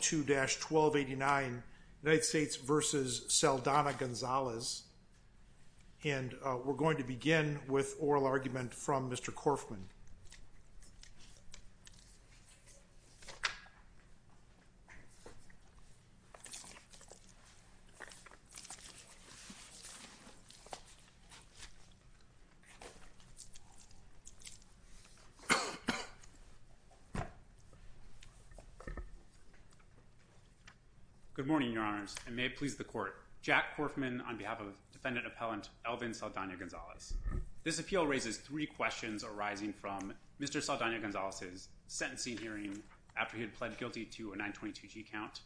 United States v. Saldana-Gonzalez. And we're going to begin with oral argument from Mr. Korfman. Good morning, Your Honors, and may it please the court. Jack Korfman on behalf of defendant appellant Elvin Saldana-Gonzalez. This appeal raises three questions arising from Mr. Saldana-Gonzalez's sentencing hearing after he had pled guilty to a 922G count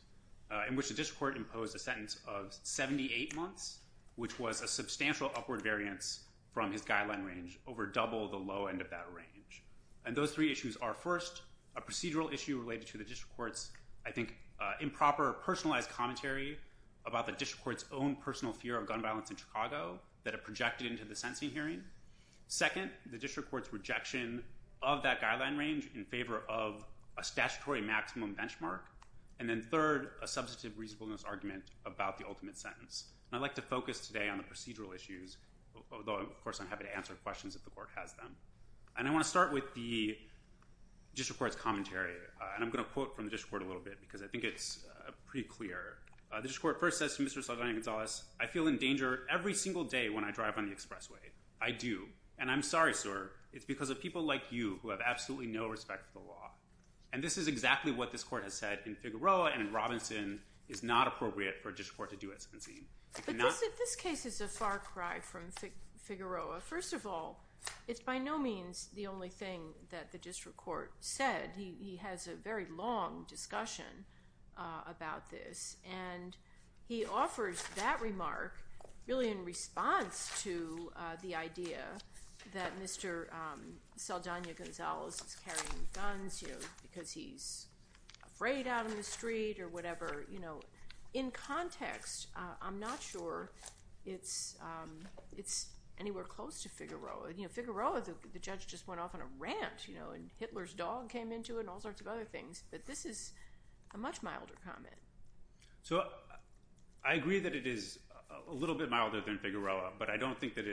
in which the district court imposed a sentence of 78 months, which was a substantial upward variance from his guideline range over double the low end of that range. And those three issues are first, a procedural issue related to the district court's I think improper personalized commentary about the district court's own personal fear of gun violence in Chicago that it projected into the sentencing hearing. Second, the district court's rejection of that guideline range in favor of a statutory maximum benchmark. And then third, a substantive reasonableness argument about the ultimate sentence. And I'd like to focus today on the procedural issues, although of course I'm happy to answer questions if the court has them. And I want to start with the district court's commentary, and I'm going to quote from the district court a little bit because I think it's pretty clear. The district court first says to Mr. Saldana-Gonzalez, I feel in danger every single day when I drive on the expressway. I do. And I'm sorry, sir. It's because of people like you who have absolutely no respect for the law. And this is exactly what this court has said in Figueroa and in Robinson is not appropriate for a district court to do at sentencing. But this case is a far cry from Figueroa. First of all, it's by no means the only thing that the district court said. He has a very long discussion about this, and he offers that remark really in response to the idea that Mr. Saldana-Gonzalez is carrying guns because he's afraid out on the street or whatever. In context, I'm not sure it's anywhere close to Figueroa. Figueroa, the judge just went off on a rant, and Hitler's dog came into it and all sorts of other things. But this is a much milder comment. So I agree that it is a little bit milder than Figueroa, but I don't think that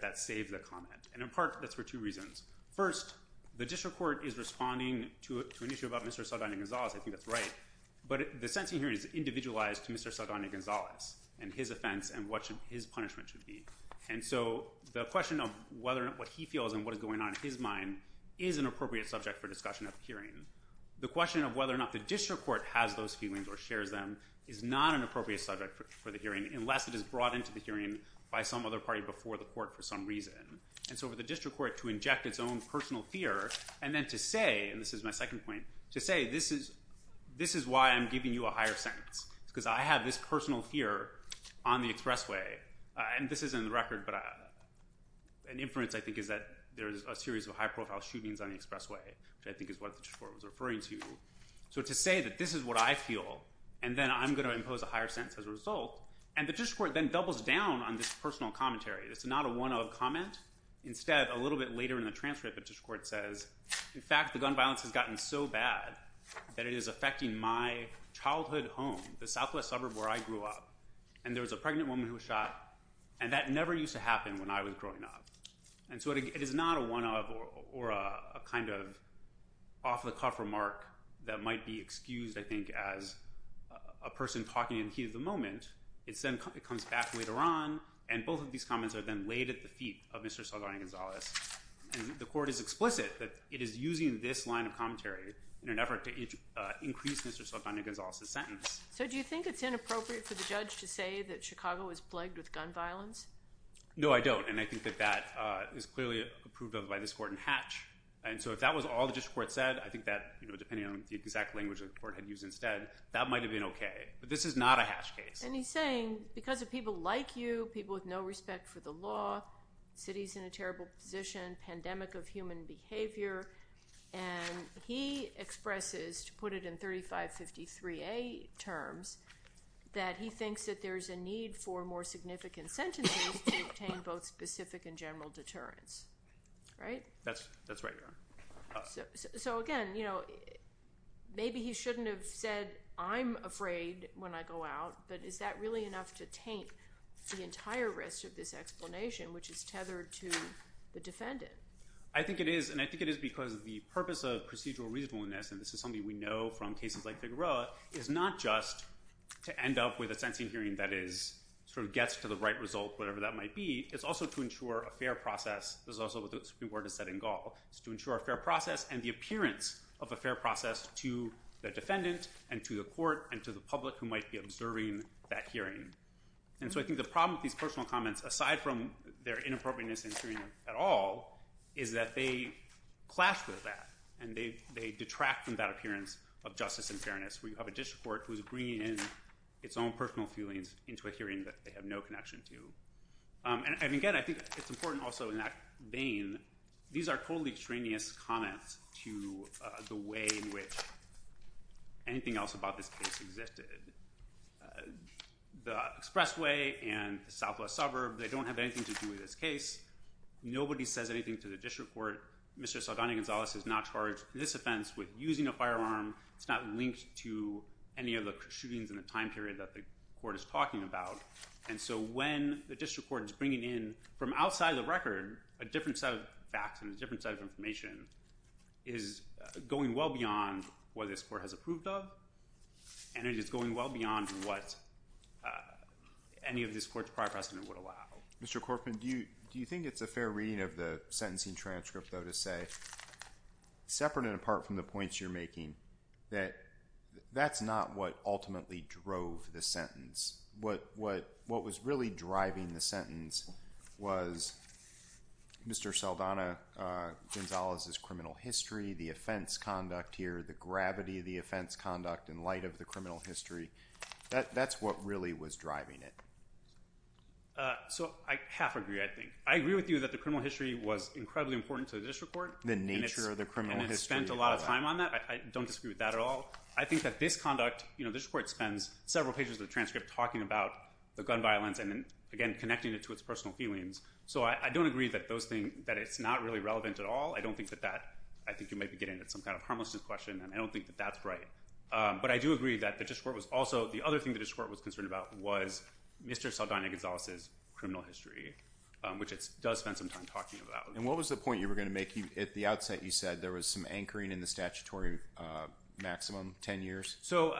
that saved the comment. And in part, that's for two reasons. First, the district court is responding to an issue about Mr. Saldana-Gonzalez. I think that's right. But the sentencing hearing is individualized to Mr. Saldana-Gonzalez and his offense and what his punishment should be. And so the question of what he feels and what is going on in his mind is an appropriate subject for discussion at the hearing. The question of whether or not the district court has those feelings or shares them is not an appropriate subject for the hearing unless it is brought into the hearing by some other party before the court for some reason. And so for the district court to inject its own personal fear and then to say, and this is my second point, to say this is why I'm giving you a higher sentence because I have this personal fear on the expressway. And this is in the record, but an inference I think is that there is a series of high-profile shootings on the expressway, which I think is what the district court was referring to. So to say that this is what I feel, and then I'm going to impose a higher sentence as a result. And the district court then doubles down on this personal commentary. It's not a one-of comment. Instead, a little bit later in the transcript, the district court says, in fact, the gun violence has gotten so bad that it is affecting my childhood home, the southwest suburb where I grew up. And there was a pregnant woman who was shot, and that never used to happen when I was growing up. And so it is not a one-of or a kind of off-the-cuff remark that might be excused, I think, as a person talking in the heat of the moment. It comes back later on, and both of these comments are then laid at the feet of Mr. Saldana-Gonzalez. And the court is explicit that it is using this line of commentary in an effort to increase Mr. Saldana-Gonzalez's sentence. So do you think it's inappropriate for the judge to say that Chicago was plagued with gun violence? No, I don't, and I think that that is clearly approved of by this court in Hatch. And so if that was all the district court said, I think that, depending on the exact language the court had used instead, that might have been okay. But this is not a Hatch case. And he's saying, because of people like you, people with no respect for the law, cities in a terrible position, pandemic of human behavior, and he expresses, to put it in 3553A terms, that he thinks that there's a need for more significant sentences to obtain both specific and general deterrence. Right? That's right, Your Honor. So again, maybe he shouldn't have said, I'm afraid when I go out, but is that really enough to taint the entire rest of this explanation, which is tethered to the defendant? I think it is, and I think it is because of the purpose of procedural reasonableness, and this is something we know from cases like Figueroa, is not just to end up with a sentencing hearing that sort of gets to the right result, whatever that might be. It's also to ensure a fair process. This is also what the Supreme Court has said in Gall. It's to ensure a fair process and the appearance of a fair process to the defendant and to the court and to the public who might be observing that hearing. And so I think the problem with these personal comments, aside from their inappropriateness in hearing at all, is that they clash with that and they detract from that appearance of justice and fairness where you have a district court who is bringing in its own personal feelings into a hearing that they have no connection to. And again, I think it's important also in that vein, these are totally extraneous comments to the way in which anything else about this case existed. The expressway and the southwest suburb, they don't have anything to do with this case. Nobody says anything to the district court. Mr. Salgana-Gonzalez is not charged in this offense with using a firearm. It's not linked to any of the shootings in the time period that the court is talking about. And so when the district court is bringing in from outside the record, a different set of facts and a different set of information is going well beyond what this court has approved of and it is going well beyond what any of this court's prior precedent would allow. Mr. Corfman, do you think it's a fair reading of the sentencing transcript, though, to say separate and apart from the points you're making that that's not what ultimately drove the sentence? What was really driving the sentence was Mr. Salgana-Gonzalez's criminal history, the offense conduct here, the gravity of the offense conduct in light of the criminal history. That's what really was driving it. So I half agree, I think. I agree with you that the criminal history was incredibly important to the district court. The nature of the criminal history. And it spent a lot of time on that. I don't disagree with that at all. I think that this conduct, you know, the district court spends several pages of the transcript talking about the gun violence and, again, connecting it to its personal feelings. So I don't agree that those things, that it's not really relevant at all. I don't think that that, I think you might be getting at some kind of harmlessness question, and I don't think that that's right. But I do agree that the district court was also, the other thing the district court was concerned about was Mr. Salgana-Gonzalez's criminal history, which it does spend some time talking about. And what was the point you were going to make? At the outset, you said there was some anchoring in the statutory maximum, 10 years? So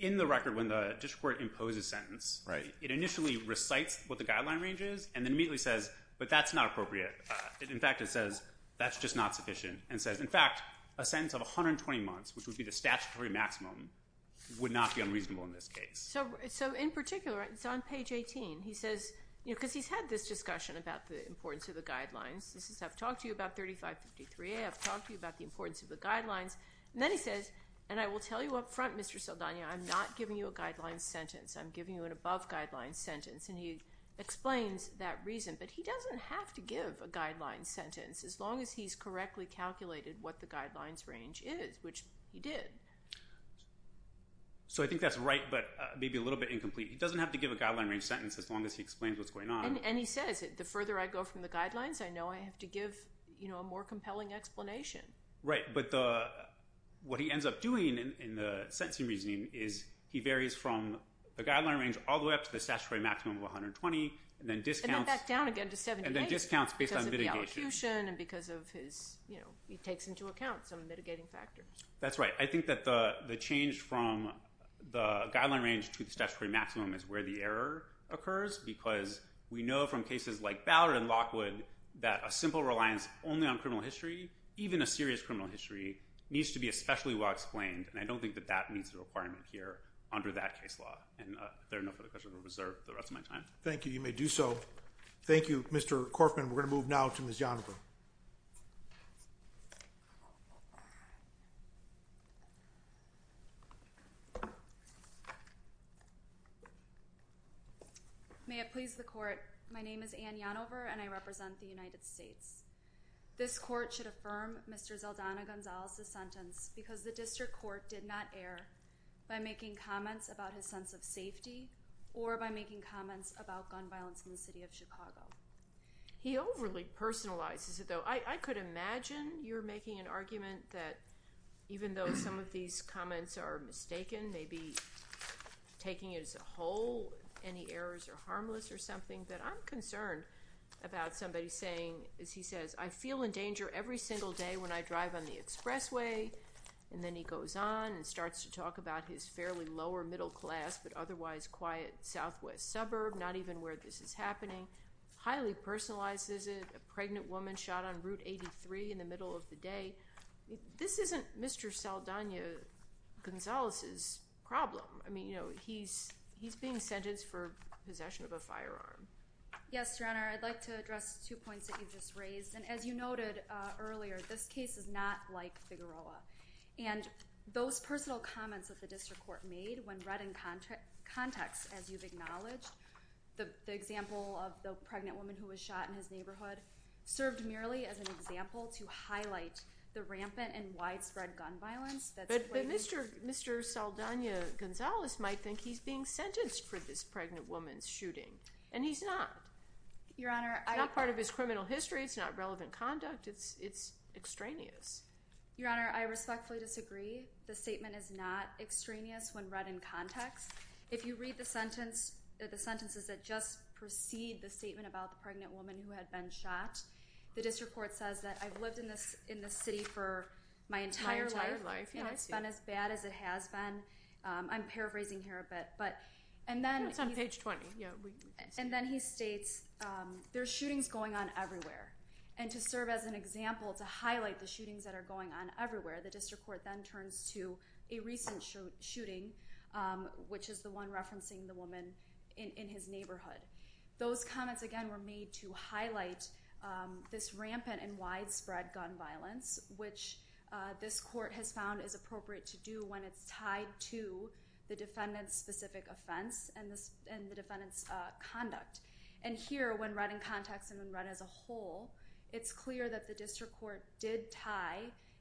in the record, when the district court imposes a sentence, it initially recites what the guideline range is and then immediately says, but that's not appropriate. In fact, it says, that's just not sufficient. And says, in fact, a sentence of 120 months, which would be the statutory maximum, would not be unreasonable in this case. So in particular, it's on page 18. He says, because he's had this discussion about the importance of the guidelines. He says, I've talked to you about 3553A. I've talked to you about the importance of the guidelines. And then he says, and I will tell you up front, Mr. Salgana, I'm not giving you a guideline sentence. I'm giving you an above-guideline sentence. And he explains that reason, but he doesn't have to give a guideline sentence. As long as he's correctly calculated what the guidelines range is, which he did. So I think that's right, but maybe a little bit incomplete. He doesn't have to give a guideline range sentence as long as he explains what's going on. And he says, the further I go from the guidelines, I know I have to give a more compelling explanation. Right. But what he ends up doing in the sentencing reasoning is he varies from the guideline range all the way up to the statutory maximum of 120, and then discounts. And then back down again to 78. And then discounts based on mitigation. Because of the allocution and because of his, you know, he takes into account some mitigating factors. That's right. I think that the change from the guideline range to the statutory maximum is where the error occurs, because we know from cases like Ballard and Lockwood that a simple reliance only on criminal history, even a serious criminal history, needs to be especially well-explained. And I don't think that that meets the requirement here under that case law. And if there are no further questions, I'll reserve the rest of my time. Thank you. You may do so. Thank you, Mr. Corfman. We're going to move now to Ms. Yanover. May it please the court, my name is Anne Yanover, and I represent the United States. This court should affirm Mr. Zeldana Gonzalez's sentence because the district court did not err by making comments about his sense of safety or by making comments about gun violence in the city of Chicago. He overly personalizes it, though. I could imagine you're making an argument that even though some of these comments are mistaken, maybe taking it as a whole, any errors are harmless or something, that I'm concerned about somebody saying, as he says, I feel in danger every single day when I drive on the expressway. And then he goes on and starts to talk about his fairly lower middle class but otherwise quiet southwest suburb, not even where this is happening. Highly personalizes it, a pregnant woman shot on Route 83 in the middle of the day. This isn't Mr. Zeldana Gonzalez's problem. I mean, you know, he's being sentenced for possession of a firearm. Yes, Your Honor, I'd like to address two points that you just raised. And as you noted earlier, this case is not like Figueroa. And those personal comments that the district court made, when read in context, as you've acknowledged, the example of the pregnant woman who was shot in his neighborhood, served merely as an example to highlight the rampant and widespread gun violence. But Mr. Zeldana Gonzalez might think he's being sentenced for this pregnant woman's shooting. And he's not. Your Honor, I It's not part of his criminal history. It's not relevant conduct. It's extraneous. Your Honor, I respectfully disagree. The statement is not extraneous when read in context. If you read the sentences that just precede the statement about the pregnant woman who had been shot, the district court says that I've lived in this city for my entire life. It's been as bad as it has been. I'm paraphrasing here a bit. It's on page 20. And then he states, there's shootings going on everywhere. And to serve as an example, to highlight the shootings that are going on everywhere, the district court then turns to a recent shooting, which is the one referencing the woman in his neighborhood. Those comments, again, were made to highlight this rampant and widespread gun violence, which this court has found is appropriate to do when it's tied to the defendant's specific offense and the defendant's conduct. And here, when read in context and when read as a whole, it's clear that the district court did tie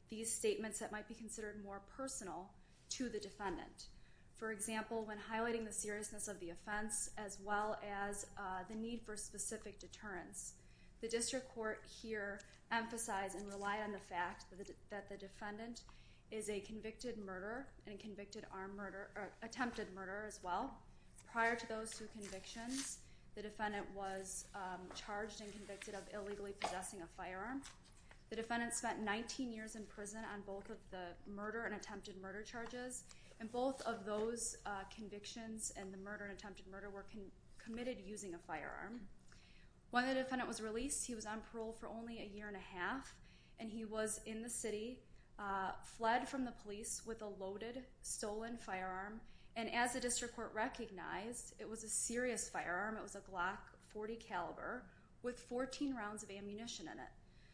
these statements that might be considered more personal to the defendant. For example, when highlighting the seriousness of the offense as well as the need for specific deterrence, the district court here emphasized and relied on the fact that the defendant is a convicted murderer and attempted murderer as well. Prior to those two convictions, the defendant was charged and convicted of illegally possessing a firearm. The defendant spent 19 years in prison on both of the murder and attempted murder charges, and both of those convictions and the murder and attempted murder were committed using a firearm. When the defendant was released, he was on parole for only a year and a half, and he was in the city, fled from the police with a loaded, stolen firearm, and as the district court recognized, it was a serious firearm. It was a Glock .40 caliber with 14 rounds of ammunition in it.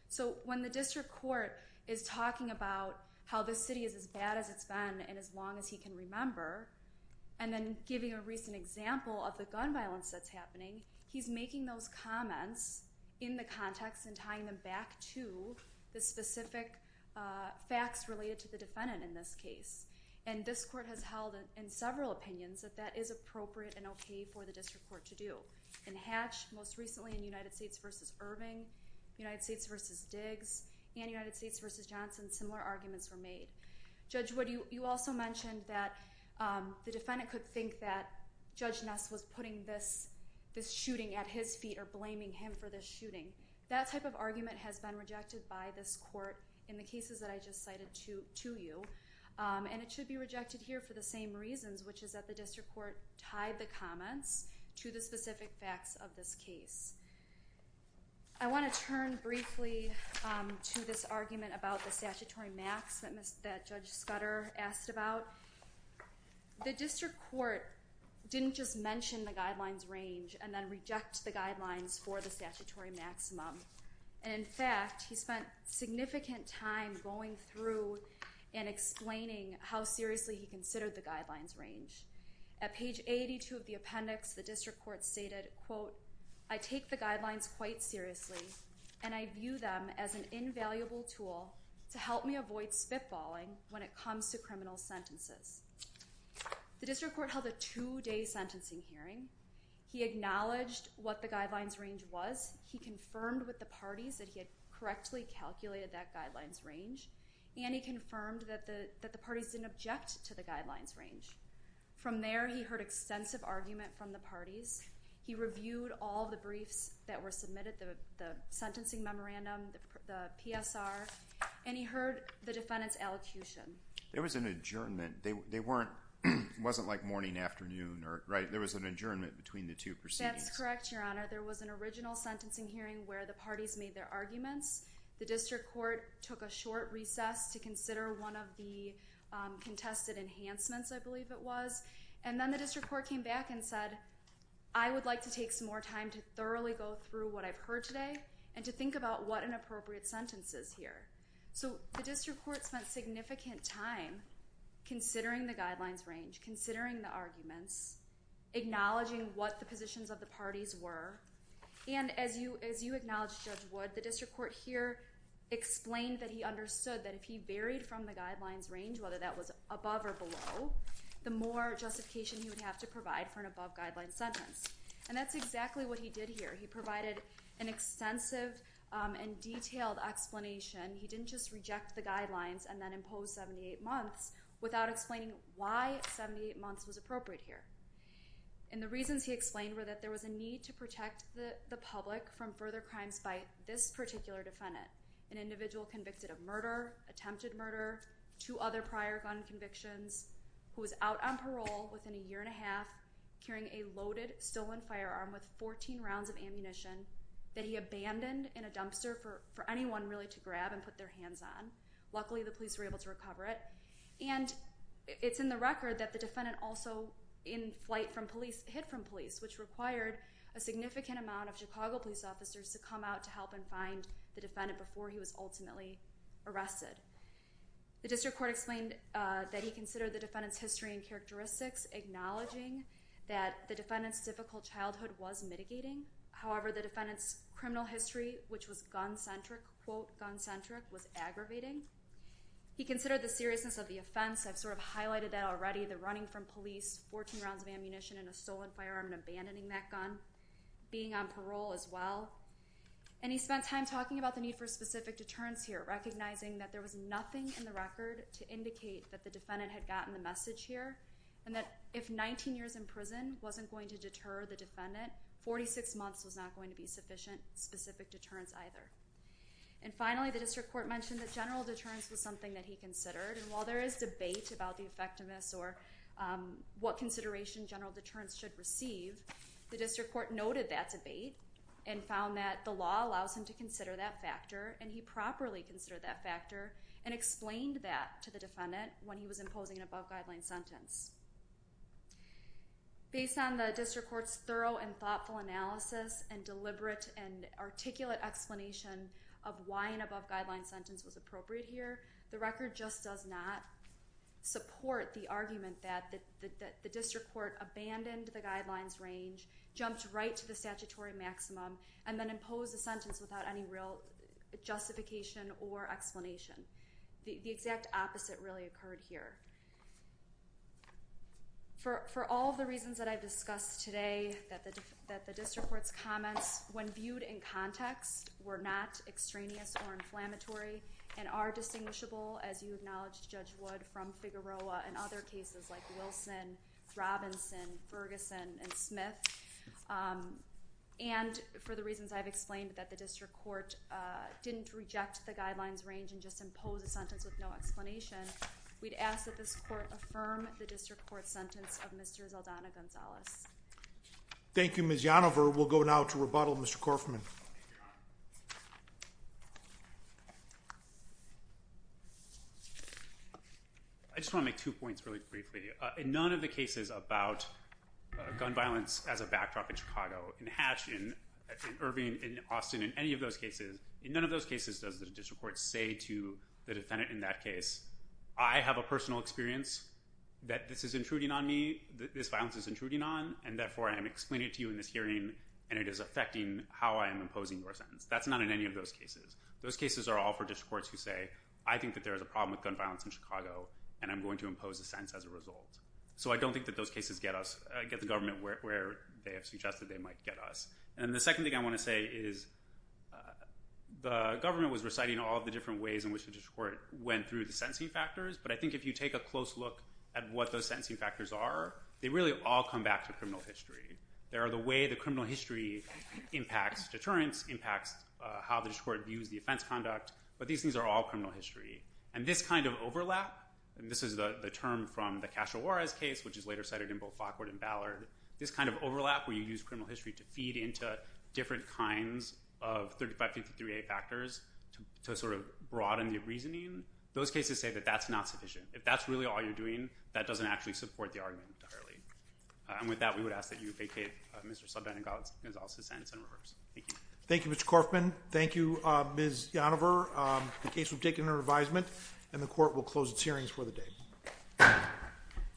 So when the district court is talking about how this city is as bad as it's been and as long as he can remember and then giving a recent example of the gun violence that's happening, he's making those comments in the context and tying them back to the specific facts related to the defendant in this case. And this court has held in several opinions that that is appropriate and okay for the district court to do. In Hatch, most recently in United States v. Irving, United States v. Diggs, and United States v. Johnson, similar arguments were made. Judge Wood, you also mentioned that the defendant could think that Judge Ness was putting this shooting at his feet or blaming him for this shooting. That type of argument has been rejected by this court in the cases that I just cited to you, and it should be rejected here for the same reasons, which is that the district court tied the comments to the specific facts of this case. I want to turn briefly to this argument about the statutory maximum that Judge Scudder asked about. The district court didn't just mention the guidelines range and then reject the guidelines for the statutory maximum. In fact, he spent significant time going through and explaining how seriously he considered the guidelines range. At page 82 of the appendix, the district court stated, quote, I take the guidelines quite seriously, and I view them as an invaluable tool to help me avoid spitballing when it comes to criminal sentences. The district court held a two-day sentencing hearing. He acknowledged what the guidelines range was. He confirmed with the parties that he had correctly calculated that guidelines range, and he confirmed that the parties didn't object to the guidelines range. From there, he heard extensive argument from the parties. He reviewed all the briefs that were submitted, the sentencing memorandum, the PSR, and he heard the defendant's elocution. There was an adjournment. It wasn't like morning, afternoon, right? There was an adjournment between the two proceedings. That's correct, Your Honor. There was an original sentencing hearing where the parties made their arguments. The district court took a short recess to consider one of the contested enhancements, I believe it was, and then the district court came back and said, I would like to take some more time to thoroughly go through what I've heard today and to think about what an appropriate sentence is here. So the district court spent significant time considering the guidelines range, considering the arguments, acknowledging what the positions of the parties were, and as you acknowledged, Judge Wood, the district court here explained that he understood that if he varied from the guidelines range, whether that was above or below, the more justification he would have to provide for an above-guidelines sentence. And that's exactly what he did here. He provided an extensive and detailed explanation. He didn't just reject the guidelines and then impose 78 months without explaining why 78 months was appropriate here. And the reasons he explained were that there was a need to protect the public from further crimes by this particular defendant, an individual convicted of murder, attempted murder, two other prior gun convictions, who was out on parole within a year and a half carrying a loaded, stolen firearm with 14 rounds of ammunition that he abandoned in a dumpster for anyone really to grab and put their hands on. Luckily, the police were able to recover it. And it's in the record that the defendant also, in flight from police, hit from police, which required a significant amount of Chicago police officers to come out to help and find the defendant before he was ultimately arrested. The district court explained that he considered the defendant's history and characteristics, acknowledging that the defendant's difficult childhood was mitigating. However, the defendant's criminal history, which was gun-centric, quote, gun-centric, was aggravating. He considered the seriousness of the offense. I've sort of highlighted that already, the running from police, 14 rounds of ammunition, and a stolen firearm, and abandoning that gun, being on parole as well. And he spent time talking about the need for specific deterrence here, recognizing that there was nothing in the record to indicate that the defendant had gotten the message here and that if 19 years in prison wasn't going to deter the defendant, 46 months was not going to be sufficient specific deterrence either. And finally, the district court mentioned that general deterrence was something that he considered, and while there is debate about the effectiveness or what consideration general deterrence should receive, the district court noted that debate and found that the law allows him to consider that factor, and he properly considered that factor and explained that to the defendant when he was imposing an above-guideline sentence. Based on the district court's thorough and thoughtful analysis, and deliberate and articulate explanation of why an above-guideline sentence was appropriate here, the record just does not support the argument that the district court abandoned the guidelines range, jumped right to the statutory maximum, and then imposed the sentence without any real justification or explanation. The exact opposite really occurred here. For all of the reasons that I've discussed today, that the district court's comments, when viewed in context, were not extraneous or inflammatory and are distinguishable, as you acknowledged, Judge Wood, from Figueroa and other cases like Wilson, Robinson, Ferguson, and Smith, and for the reasons I've explained, that the district court didn't reject the guidelines range and just impose a sentence with no explanation, we'd ask that this court affirm the district court's sentence of Mr. Zaldana Gonzalez. Thank you, Ms. Yanover. We'll go now to rebuttal. Mr. Korfman. I just want to make two points really briefly. In none of the cases about gun violence as a backdrop in Chicago, in Hatch, in Irving, in Austin, in any of those cases, in none of those cases does the district court say to the defendant in that case, I have a personal experience that this is intruding on me, that this violence is intruding on, and therefore I am explaining it to you in this hearing, and it is affecting how I am imposing your sentence. That's not in any of those cases. Those cases are all for district courts who say, I think that there is a problem with gun violence in Chicago, and I'm going to impose a sentence as a result. So I don't think that those cases get the government where they have suggested they might get us. And the second thing I want to say is the government was reciting all of the different ways in which the district court went through the sentencing factors, but I think if you take a close look at what those sentencing factors are, they really all come back to criminal history. They are the way the criminal history impacts deterrence, impacts how the district court views the offense conduct, but these things are all criminal history. And this kind of overlap, and this is the term from the Castro-Juarez case, which is later cited in both Fockwood and Ballard, this kind of overlap where you use criminal history to feed into different kinds of 3553A factors to sort of broaden the reasoning, those cases say that that's not sufficient. If that's really all you're doing, that doesn't actually support the argument entirely. And with that, we would ask that you vacate Mr. Saldana-Gonzalez's sentence in reverse. Thank you. Thank you, Mr. Korfman. Thank you, Ms. Yonover. The case will be taken under advisement, and the court will close its hearings for the day.